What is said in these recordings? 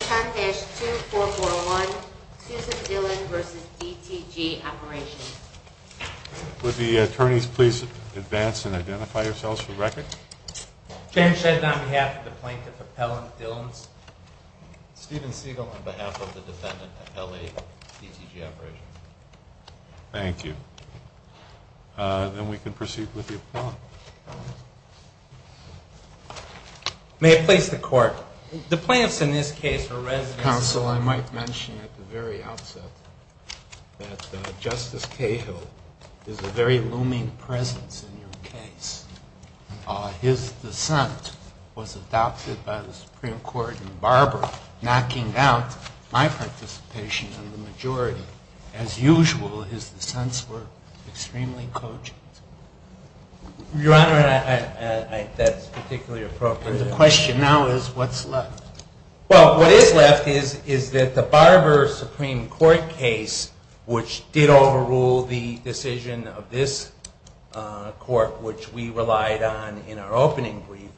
Thank you. Then we can proceed with the appellant. May I please the court? The plaintiffs in this case are residents of the Supreme Court. Mr. Counsel, I might mention at the very outset that Justice Cahill is a very looming presence in your case. His dissent was adopted by the Supreme Court in Barber, knocking out my participation in the majority. As usual, his dissents were extremely cogent. Your Honor, I think that's particularly appropriate. And the question now is what's left? Well, what is left is that the Barber Supreme Court case, which did overrule the decision of this court, which we relied on in our opening brief,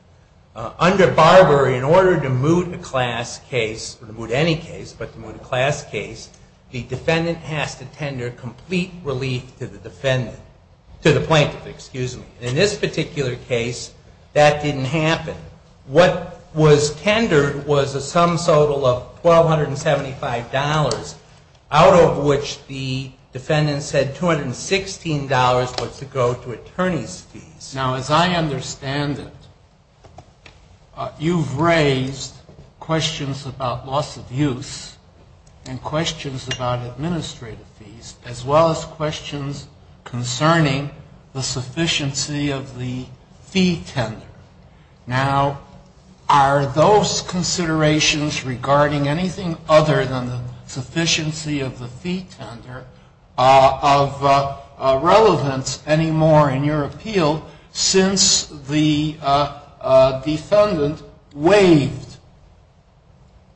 under Barber, in order to moot a class case, or to moot any case but to moot a class case, the defendant has to tender complete relief to the defendant to the plaintiff, excuse me. In this particular case, that didn't happen. What was tendered was a sum total of $1,275, out of which the defendant said $216 was to go to attorney's fees. Now, as I understand it, you've raised questions about loss of use and questions about administrative fees, as well as questions concerning the sufficiency of the fee tender. Now, are those considerations regarding anything other than the sufficiency of the fee tender of relevance any more in your appeal since the defendant waived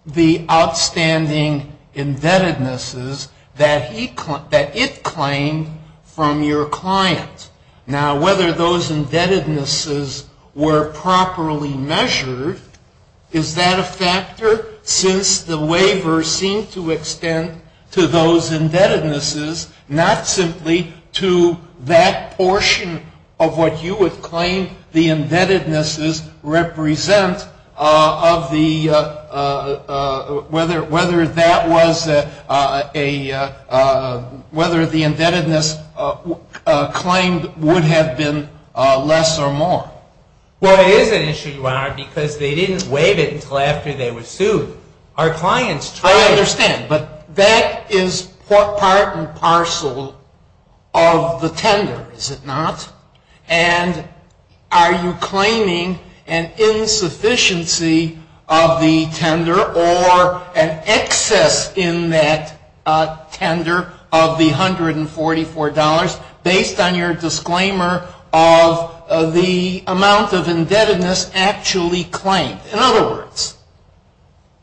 the outstanding indebtednesses that it claimed from your client? Now, whether those indebtednesses were properly measured, is that a factor since the waiver seemed to extend to those portion of what you would claim the indebtednesses represent of the, whether that was a, whether the indebtedness claimed would have been less or more? Well, it is an issue, Your Honor, because they didn't waive it until after they were sued. Our clients tried. I understand, but that is part and parcel of the tender, is it not? And are you claiming an insufficiency of the tender or an excess in that tender of the $144, based on your disclaimer of the amount of indebtedness actually claimed? In other words,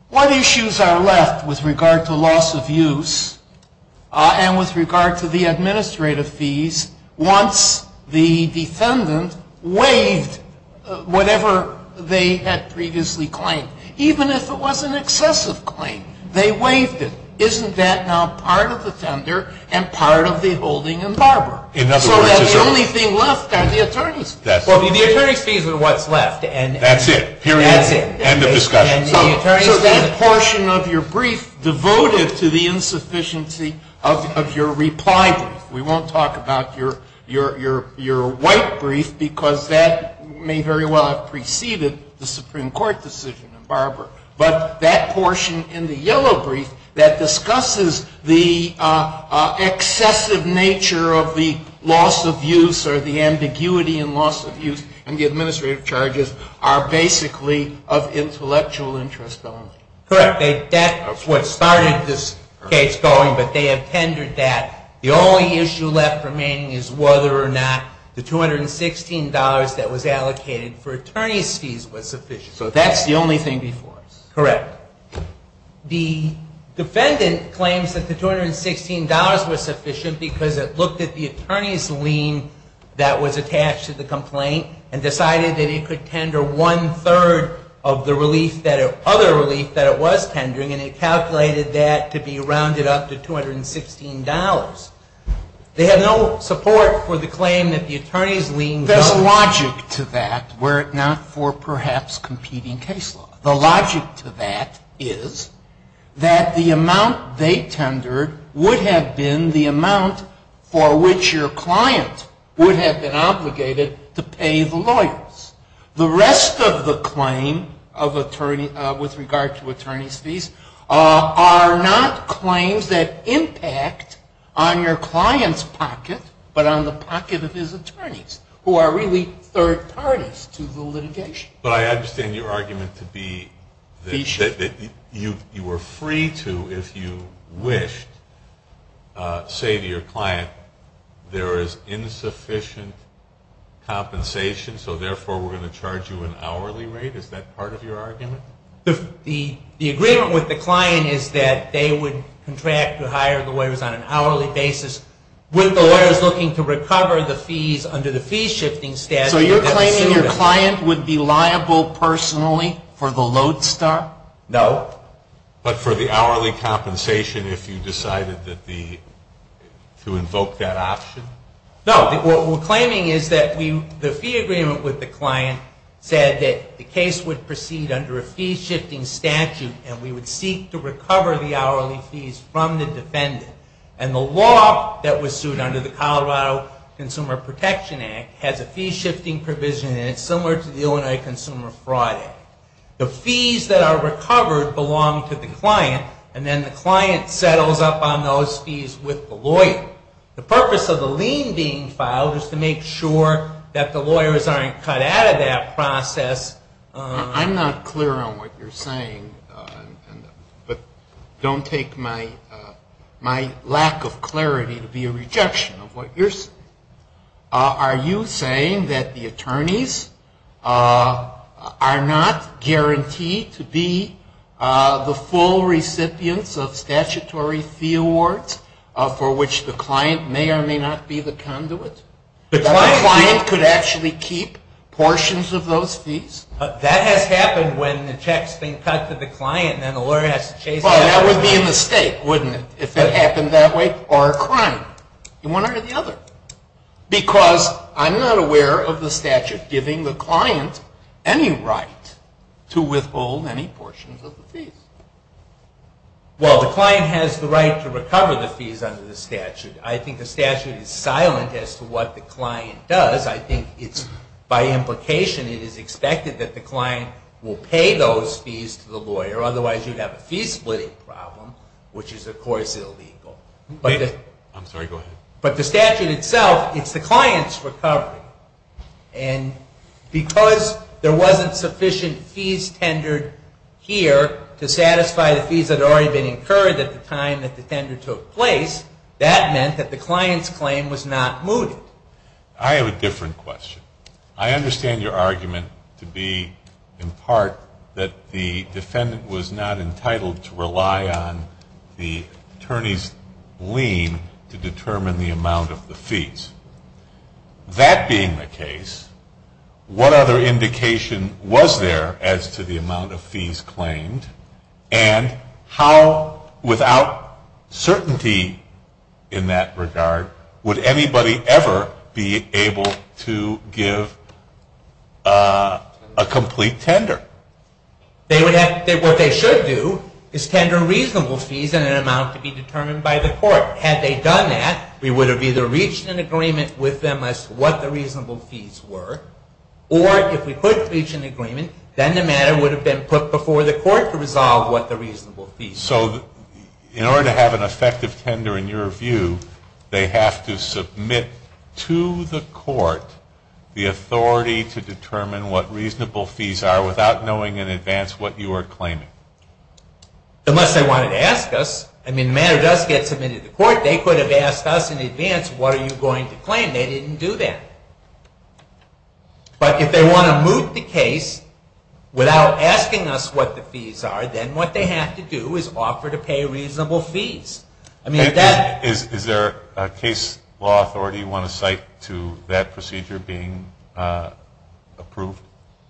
what issues are left with regard to loss of use and with regard to the administrative fees once the defendant waived whatever they had previously claimed, even if it was an excessive claim? They waived it. Isn't that now part of the tender and part of the holding in Barbara? So the only thing left are the attorney's fees. Well, the attorney's fees are what's left. That's it. Period. End of discussion. So that portion of your brief devoted to the insufficiency of your reply brief. We won't talk about your white brief because that may very well have preceded the Supreme Court decision in Barbara. But that portion in the yellow brief that discusses the excessive nature of the loss of use or the ambiguity in loss of use and the administrative charges are basically of intellectual interest only. Correct. That's what started this case going, but they have tendered that. The only issue left remaining is whether or not the $216 that was allocated for attorney's fees was sufficient. So that's the only thing before us. Correct. The defendant claims that the $216 was sufficient because it looked at the attorney's lien that was attached to the complaint and decided that it could tender one-third of the other relief that it was tendering and it calculated that to be rounded up to $216. They have no support for the claim that the attorney's lien does. There's logic to that were it not for perhaps competing case law. The logic to that is that the amount they tendered would have been the amount for which your client would have been obligated to pay the lawyers. The rest of the claim with regard to attorney's fees are not claims that impact on your client's pocket, but on the pocket of his attorneys who are really third parties to the litigation. But I understand your argument to be that you were free to, if you wished, say to your client, there is insufficient compensation, so therefore we're going to charge you an hourly rate. Is that part of your argument? The agreement with the client is that they would contract to hire the lawyers on an hourly basis with the lawyers looking to recover the fees under the fee-shifting statute. So you're claiming your client would be liable personally for the lodestar? No. But for the hourly compensation if you decided to invoke that option? No. What we're claiming is that the fee agreement with the client said that the case would proceed under a fee-shifting statute and we would seek to recover the hourly fees from the defendant. And the law that was sued under the Colorado Consumer Protection Act has a fee-shifting provision and it's similar to the Illinois Consumer Fraud Act. The fees that are recovered belong to the client and then the client settles up on those fees with the lawyer. The purpose of the lien being filed is to make sure that the lawyers aren't cut out of that process. I'm not clear on what you're saying, but don't take my lack of clarity to be a rejection of what you're saying. Are you saying that the attorneys are not guaranteed to be the full recipients of statutory fee awards for which the client may or may not be the conduit? That the client could actually keep portions of those fees? That has happened when the checks have been cut to the client and then the lawyer has to chase them out. Well, that would be a mistake, wouldn't it, if it happened that way? Or a crime in one or the other. Because I'm not aware of the statute giving the client any right to withhold any portions of the fees. Well, the client has the right to recover the fees under the statute. I think the statute is silent as to what the client does. I think it's by implication it is expected that the client will pay those fees to the lawyer. Otherwise, you'd have a fee-splitting problem, which is, of course, illegal. I'm sorry, go ahead. But the statute itself, it's the client's recovery. And because there wasn't sufficient fees tendered here to satisfy the fees that had already been incurred at the time that the tender took place, that meant that the client's claim was not mooted. I have a different question. I understand your argument to be, in part, that the defendant was not entitled to rely on the attorney's lien to determine the amount of the fees. That being the case, what other indication was there as to the amount of fees claimed? And how, without certainty in that regard, would anybody ever be able to give a complete tender? What they should do is tender reasonable fees in an amount to be determined by the court. Had they done that, we would have either reached an agreement with them as to what the reasonable fees were, or if we could reach an agreement, then the matter would have been put before the court to resolve what the reasonable fees were. So in order to have an effective tender, in your view, they have to submit to the court the authority to determine what reasonable fees are without knowing in advance what you are claiming? Unless they wanted to ask us. I mean, the matter does get submitted to court. They could have asked us in advance, what are you going to claim? And they didn't do that. But if they want to move the case without asking us what the fees are, then what they have to do is offer to pay reasonable fees. Is there a case law authority you want to cite to that procedure being approved?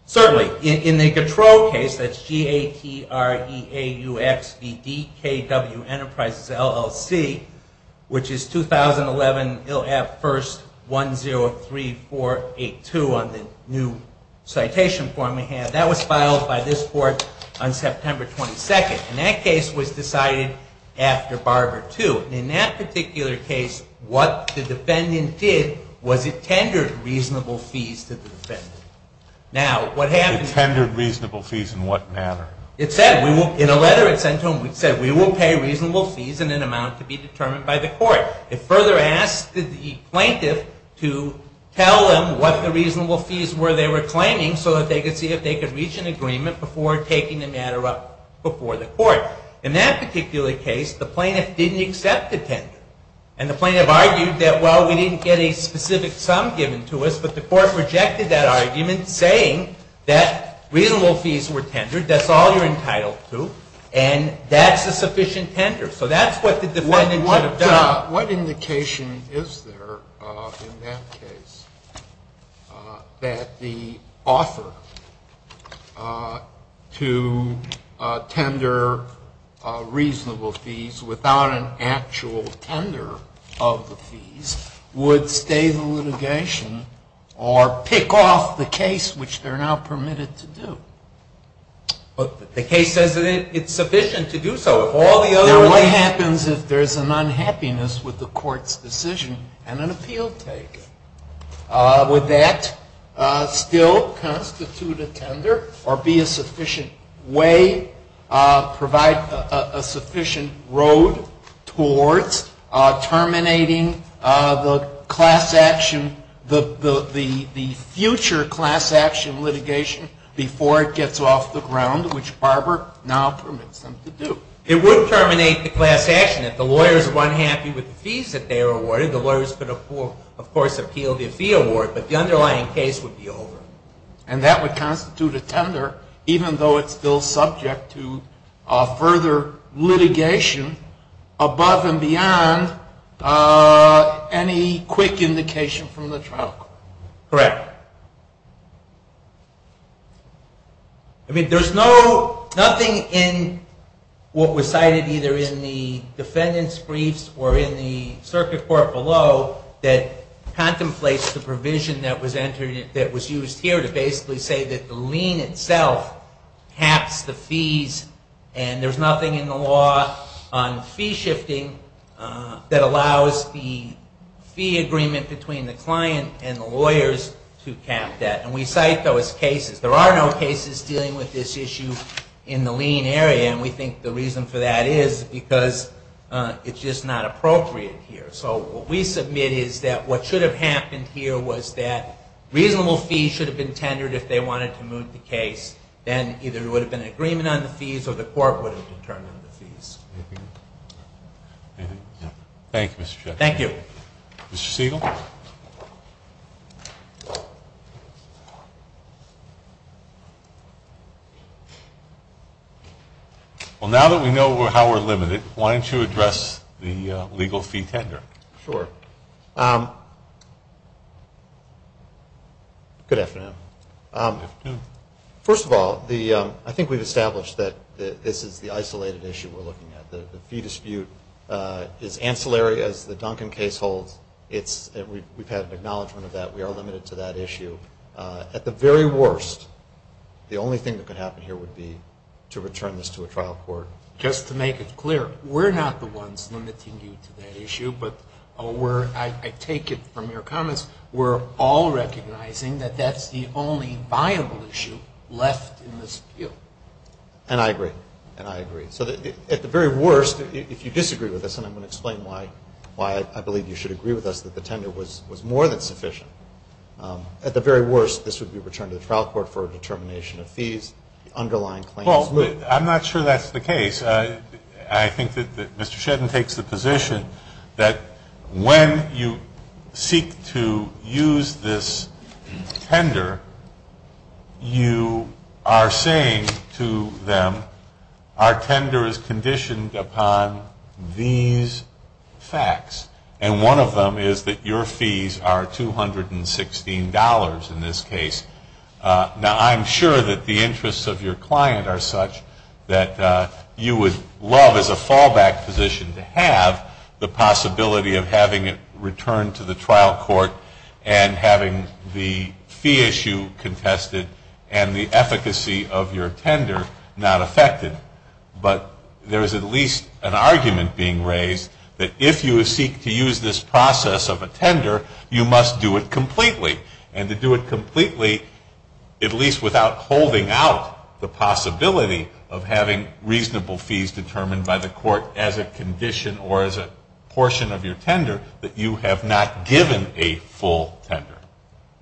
Certainly. In the Gattro case, that's G-A-T-T-R-E-A-U-X-V-D-K-W Enterprises, LLC, which is 2011, you'll have 1-0-3-4-8-2 on the new citation form we have. That was filed by this court on September 22nd. And that case was decided after Barber II. In that particular case, what the defendant did was it tendered reasonable fees to the defendant. It tendered reasonable fees in what manner? In a letter it sent to him, it said, we will pay reasonable fees in an amount to be determined by the court. It further asked the plaintiff to tell them what the reasonable fees were they were claiming so that they could see if they could reach an agreement before taking the matter up before the court. In that particular case, the plaintiff didn't accept the tender. And the plaintiff argued that, well, we didn't get a specific sum given to us, but the court rejected that argument saying that reasonable fees were tendered, that's all you're entitled to, and that's a sufficient tender. So that's what the defendant should have done. What indication is there in that case that the author to tender reasonable fees without an actual tender of the fees would stay the litigation or pick off the case which they're now permitted to do? The case says that it's sufficient to do so. Now, what happens if there's an unhappiness with the court's decision and an appeal taken? Would that still constitute a tender or be a sufficient way, provide a sufficient road towards terminating the class action, the future class action litigation before it gets off the ground, which Barber now permits them to do? It would terminate the class action. If the lawyers were unhappy with the fees that they were awarded, the lawyers could, of course, appeal the fee award, but the underlying case would be over. And that would constitute a tender even though it's still subject to further litigation above and beyond any quick indication from the trial court. Correct. I mean, there's nothing in what was cited either in the defendant's briefs or in the circuit court below that contemplates the provision that was used here to basically say that the lien itself caps the fees, and there's nothing in the law on fee shifting that allows the fee agreement between the client and the lawyers to cap that. And we cite those cases. There are no cases dealing with this issue in the lien area, and we think the reason for that is because it's just not appropriate here. So what we submit is that what should have happened here was that reasonable fees should have been tendered if they wanted to move the case. Then either there would have been an agreement on the fees or the court would have determined the fees. Thank you, Mr. Chaffetz. Thank you. Okay. Mr. Siegel? Well, now that we know how we're limited, why don't you address the legal fee tender? Sure. Good afternoon. Good afternoon. First of all, I think we've established that this is the isolated issue we're looking at. The fee dispute is ancillary as the Duncan case holds. We've had an acknowledgement of that. We are limited to that issue. At the very worst, the only thing that could happen here would be to return this to a trial court. Just to make it clear, we're not the ones limiting you to that issue, but I take it from your comments, we're all recognizing that that's the only viable issue left in this field. And I agree. And I agree. So at the very worst, if you disagree with us, and I'm going to explain why I believe you should agree with us that the tender was more than sufficient, at the very worst this would be returned to the trial court for a determination of fees, the underlying claims. Well, I'm not sure that's the case. I think that Mr. Shedden takes the position that when you seek to use this tender, you are saying to them our tender is conditioned upon these facts. And one of them is that your fees are $216 in this case. Now, I'm sure that the interests of your client are such that you would love as a fallback position to have the possibility of having it returned to the trial court and having the fee issue contested and the efficacy of your tender not affected. But there is at least an argument being raised that if you seek to use this process of a tender, you must do it completely. And to do it completely, at least without holding out the possibility of having reasonable fees determined by the court as a condition or as a portion of your tender, that you have not given a full tender.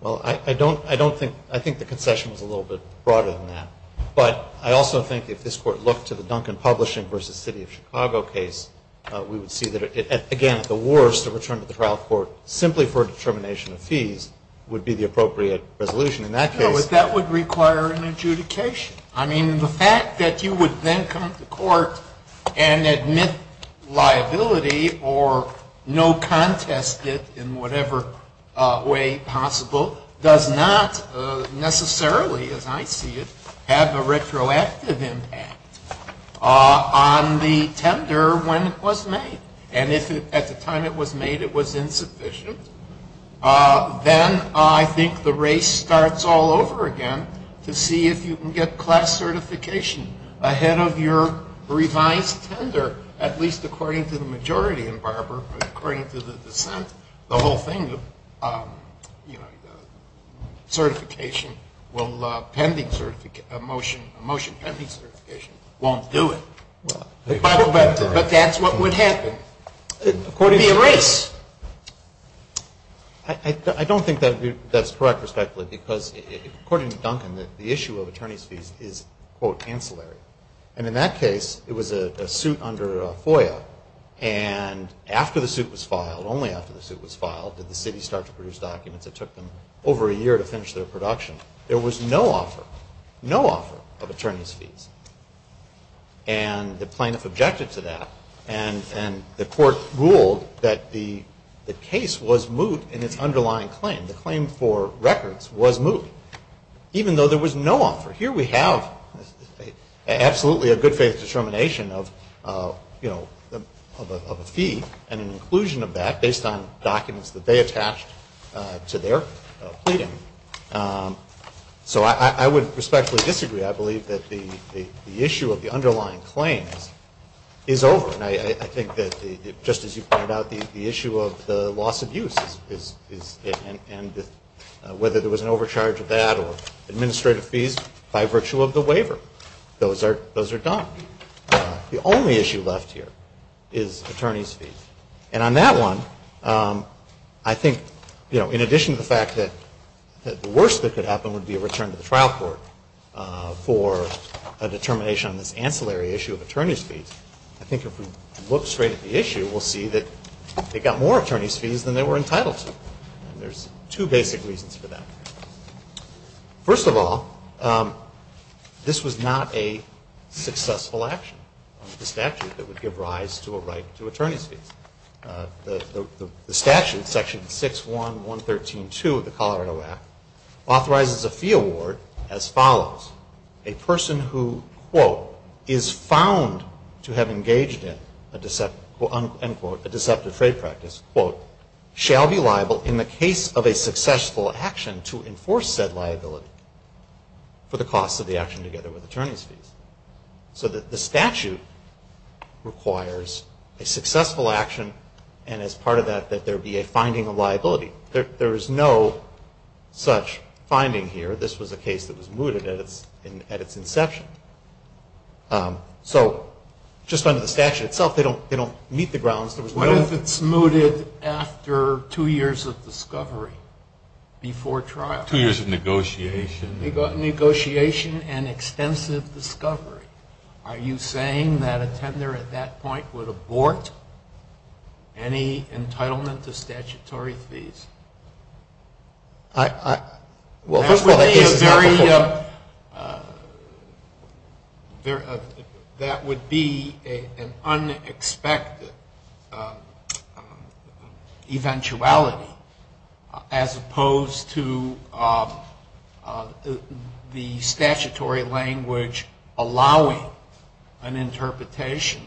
Well, I don't think the concession was a little bit broader than that. But I also think if this Court looked to the Duncan Publishing v. City of Chicago case, we would see that, again, at the worst, a return to the trial court simply for a determination of fees would be the appropriate resolution in that case. No, but that would require an adjudication. I mean, the fact that you would then come to court and admit liability or no contest it in whatever way possible does not necessarily, as I see it, have a retroactive impact on the tender when it was made. And if at the time it was made it was insufficient, then I think the race starts all over again to see if you can get class certification ahead of your revised tender, at least according to the majority in Barber, but according to the dissent, the whole thing of, you know, certification will pending motion, motion pending certification won't do it. But that's what would happen. It would be a race. I don't think that's correct, respectfully, because according to Duncan, the issue of attorney's fees is, quote, ancillary. And in that case, it was a suit under FOIA. And after the suit was filed, only after the suit was filed, did the city start to produce documents. It took them over a year to finish their production. There was no offer, no offer of attorney's fees. And the plaintiff objected to that. And the court ruled that the case was moot in its underlying claim. The claim for records was moot, even though there was no offer. Here we have absolutely a good faith determination of, you know, of a fee and an inclusion of that based on documents that they attached to their pleading. So I would respectfully disagree. I believe that the issue of the underlying claims is over. And I think that just as you pointed out, the issue of the loss of use is, and whether there was an overcharge of that or administrative fees by virtue of the waiver, those are done. The only issue left here is attorney's fees. And on that one, I think, you know, in addition to the fact that the worst that could happen would be a return to the trial court for a determination on this ancillary issue of attorney's fees, I think if we look straight at the issue, we'll see that they got more attorney's fees than they were entitled to. And there's two basic reasons for that. First of all, this was not a successful action of the statute that would give rise to a right to attorney's fees. The statute, section 6.1.113.2 of the Colorado Act, authorizes a fee award as follows. A person who, quote, is found to have engaged in, unquote, a deceptive trade practice, quote, shall be liable in the case of a successful action to enforce said liability for the cost of the action together with attorney's fees. So the statute requires a successful action, and as part of that, that there be a finding of liability. There is no such finding here. This was a case that was mooted at its inception. So just under the statute itself, they don't meet the grounds. What if it's mooted after two years of discovery before trial? Two years of negotiation. Negotiation and extensive discovery. Are you saying that a tender at that point would abort any entitlement to statutory fees? Well, first of all, that would be an unexpected eventuality as opposed to the statutory language allowing an interpretation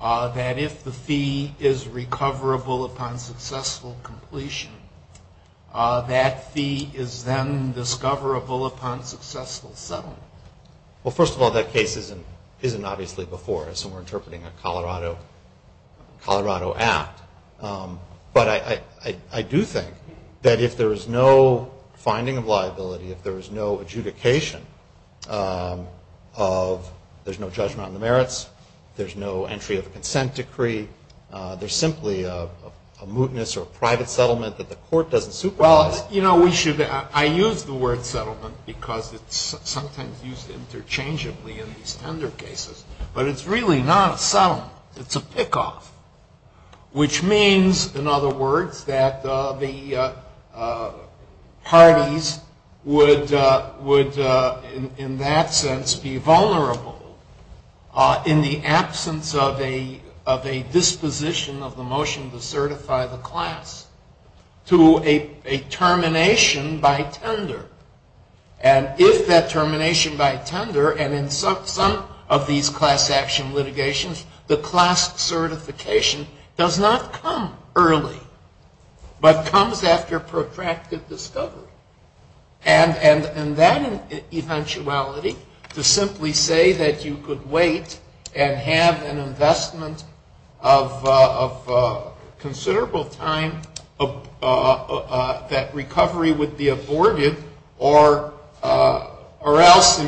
that if the fee is recoverable upon successful completion, that fee is then discoverable upon successful settlement. Well, first of all, that case isn't obviously before us, and we're interpreting a Colorado Act. But I do think that if there is no finding of liability, if there is no adjudication of, there's no judgment on the merits, there's no entry of a consent decree, there's simply a mootness or a private settlement that the court doesn't supervise. I use the word settlement because it's sometimes used interchangeably in these tender cases, but it's really not a settlement. It's a pickoff, which means, in other words, that the parties would, in that sense, be vulnerable in the absence of a disposition of the motion to certify the class to a termination by tender. And if that termination by tender, and in some of these class action litigations, the class certification does not come early, but comes after protracted discovery. And that eventuality, to simply say that you could wait and have an investment of considerable time, that recovery would be aborted, or else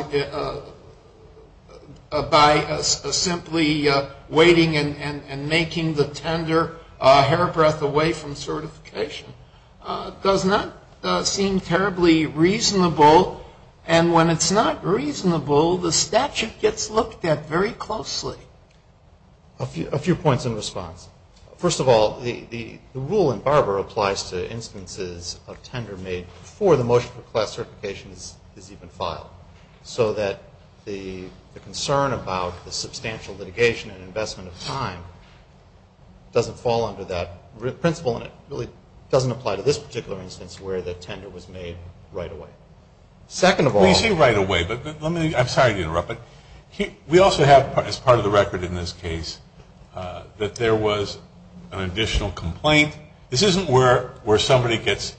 by simply waiting and making the tender hair breath away from certification, does not seem terribly reasonable. And when it's not reasonable, the statute gets looked at very closely. A few points in response. First of all, the rule in Barber applies to instances of tender made before the motion for class certification is even filed, so that the concern about the substantial litigation and investment of time doesn't fall under that principle, and it really doesn't apply to this particular instance where the tender was made right away. Second of all ñ Well, you say right away, but let me ñ I'm sorry to interrupt, but we also have, as part of the record in this case, that there was an additional complaint. This isn't where somebody gets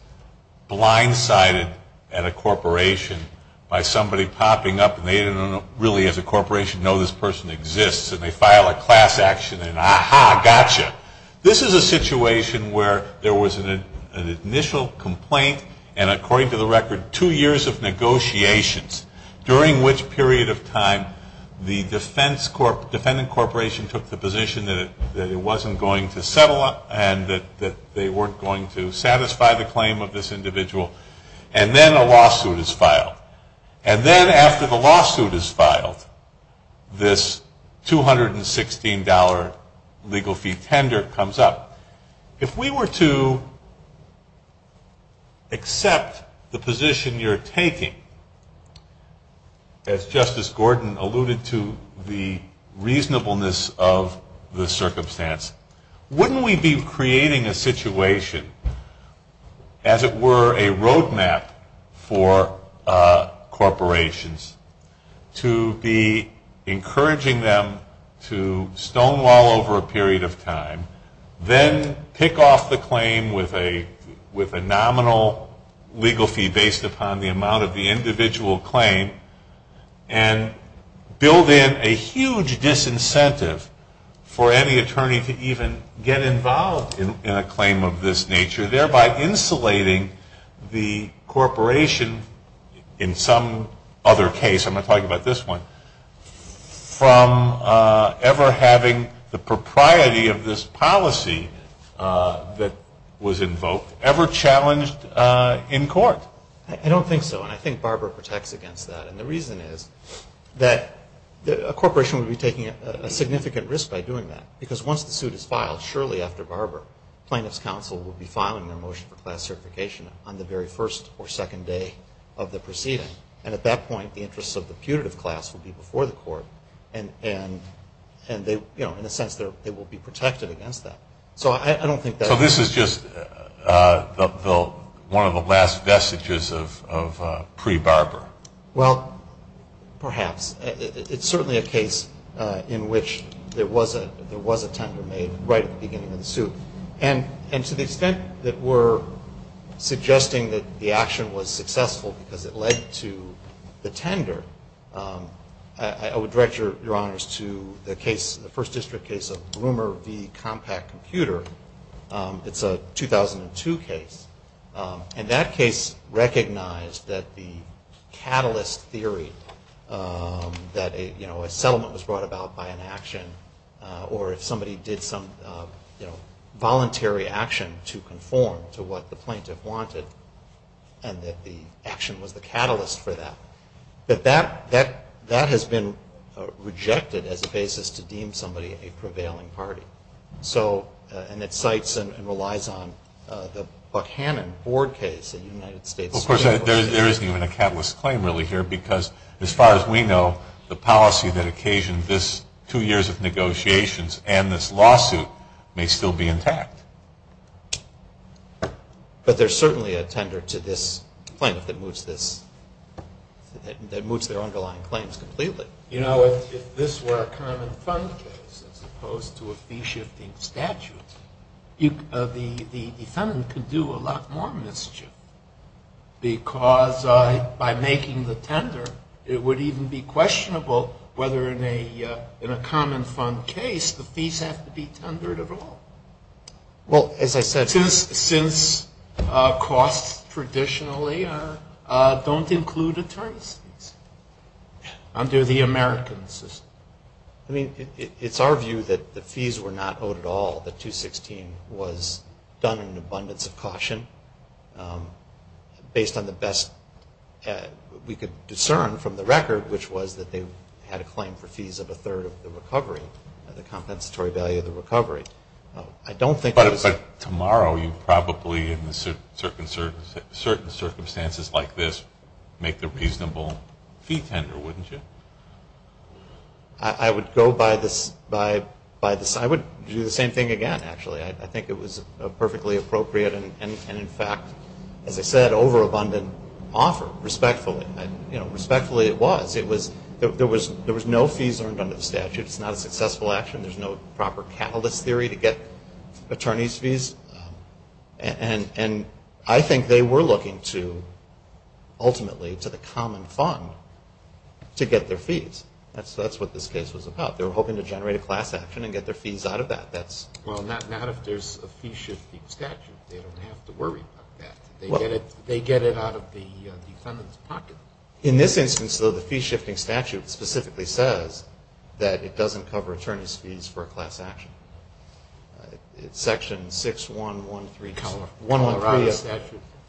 blindsided at a corporation by somebody popping up, and they didn't really, as a corporation, know this person exists, and they file a class action and, aha, gotcha. This is a situation where there was an initial complaint, and according to the record, two years of negotiations, during which period of time the defendant corporation took the position that it wasn't going to settle and that they weren't going to satisfy the claim of this individual, and then a lawsuit is filed. And then after the lawsuit is filed, this $216 legal fee tender comes up. If we were to accept the position you're taking, as Justice Gordon alluded to, the reasonableness of the circumstance, wouldn't we be creating a situation, as it were, a roadmap for corporations, to be encouraging them to stonewall over a period of time, then pick off the claim with a nominal legal fee based upon the amount of the individual claim, and build in a huge disincentive for any attorney to even get involved in a claim of this nature, thereby insulating the corporation, in some other case, I'm going to talk about this one, from ever having the propriety of this policy that was invoked ever challenged in court? I don't think so, and I think Barbara protects against that, and the reason is that a corporation would be taking a significant risk by doing that, because once the suit is filed, surely after Barbara, plaintiff's counsel will be filing their motion for class certification on the very first or second day of the proceeding, and at that point, the interests of the putative class will be before the court, and in a sense, they will be protected against that. So this is just one of the last vestiges of pre-Barbara? Well, perhaps. It's certainly a case in which there was a tender made right at the beginning of the suit, and to the extent that we're suggesting that the action was successful because it led to the tender, I would direct your honors to the first district case of Blumer v. Compact Computer. It's a 2002 case, and that case recognized that the catalyst theory, that a settlement was brought about by an action, or if somebody did some voluntary action to conform to what the plaintiff wanted, and that the action was the catalyst for that. But that has been rejected as a basis to deem somebody a prevailing party, and it cites and relies on the Buckhannon board case in the United States Supreme Court. There isn't even a catalyst claim really here because as far as we know, the policy that occasioned this two years of negotiations and this lawsuit may still be intact. But there's certainly a tender to this plaintiff that moves their underlying claims completely. You know, if this were a common fund case as opposed to a fee-shifting statute, the defendant could do a lot more mischief because by making the tender, it would even be questionable whether in a common fund case the fees have to be tendered at all. Well, as I said, since costs traditionally don't include attorney's fees under the American system. I mean, it's our view that the fees were not owed at all, that 216 was done in abundance of caution based on the best we could discern from the record, which was that they had a claim for fees of a third of the recovery, the compensatory value of the recovery. I don't think it was... I would go by this... I would do the same thing again, actually. I think it was perfectly appropriate and, in fact, as I said, overabundant offer, respectfully. You know, respectfully it was. There was no fees earned under the statute. It's not a successful action. There's no proper catalyst theory to get attorney's fees. And I think they were looking to, ultimately, to the common fund to get their fees. That's what this case was about. They were hoping to generate a class action and get their fees out of that. Well, not if there's a fee-shifting statute. They don't have to worry about that. They get it out of the defendant's pocket. In this instance, though, the fee-shifting statute specifically says that it doesn't cover attorney's fees for a class action. Section 6113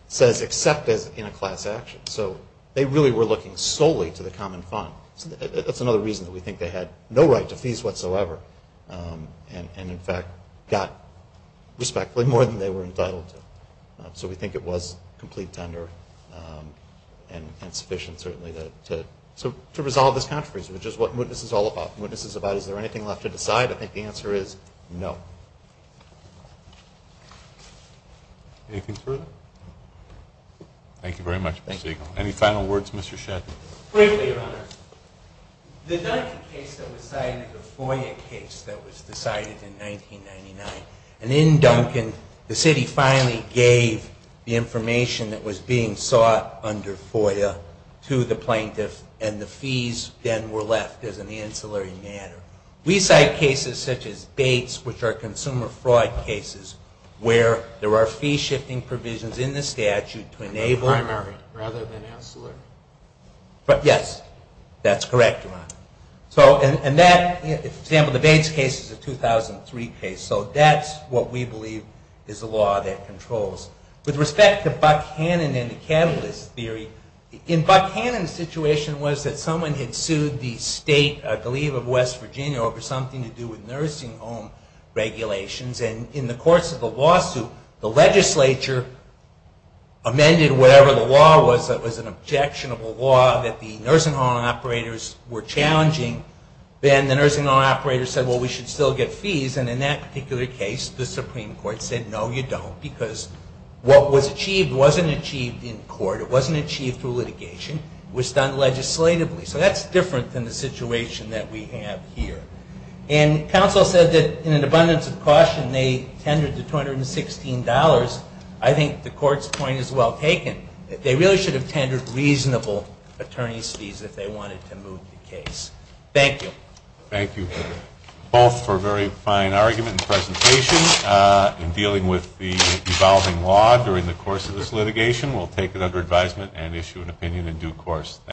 says except in a class action. So they really were looking solely to the common fund. That's another reason that we think they had no right to fees whatsoever and, in fact, got respectfully more than they were entitled to. So we think it was complete tender and sufficient, certainly, to resolve this controversy, which is what mootness is all about. Mootness is about is there anything left to decide? I think the answer is no. Anything further? Thank you very much, Mr. Siegel. Any final words, Mr. Shedden? Briefly, Your Honor. The Duncan case that was cited, the FOIA case that was decided in 1999, and in Duncan the city finally gave the information that was being sought under FOIA to the plaintiff and the fees then were left as an ancillary matter. We cite cases such as Bates, which are consumer fraud cases, where there are fee-shifting provisions in the statute to enable... Primary rather than ancillary. Yes, that's correct, Your Honor. And that, for example, the Bates case is a 2003 case, so that's what we believe is the law that controls. With respect to Buckhannon and the catalyst theory, in Buckhannon's situation was that someone had sued the state, I believe of West Virginia, over something to do with nursing home regulations. And in the course of the lawsuit, the legislature amended whatever the law was that was an objectionable law that the nursing home operators were challenging. Then the nursing home operators said, well, we should still get fees. And in that particular case, the Supreme Court said, no, you don't, because what was achieved wasn't achieved in court. It wasn't achieved through litigation. It was done legislatively. So that's different than the situation that we have here. And counsel said that in an abundance of caution they tendered the $216. I think the court's point is well taken. They really should have tendered reasonable attorney's fees if they wanted to move the case. Thank you. Thank you both for a very fine argument and presentation in dealing with the evolving law during the course of this litigation. We'll take it under advisement and issue an opinion in due course. Thank you.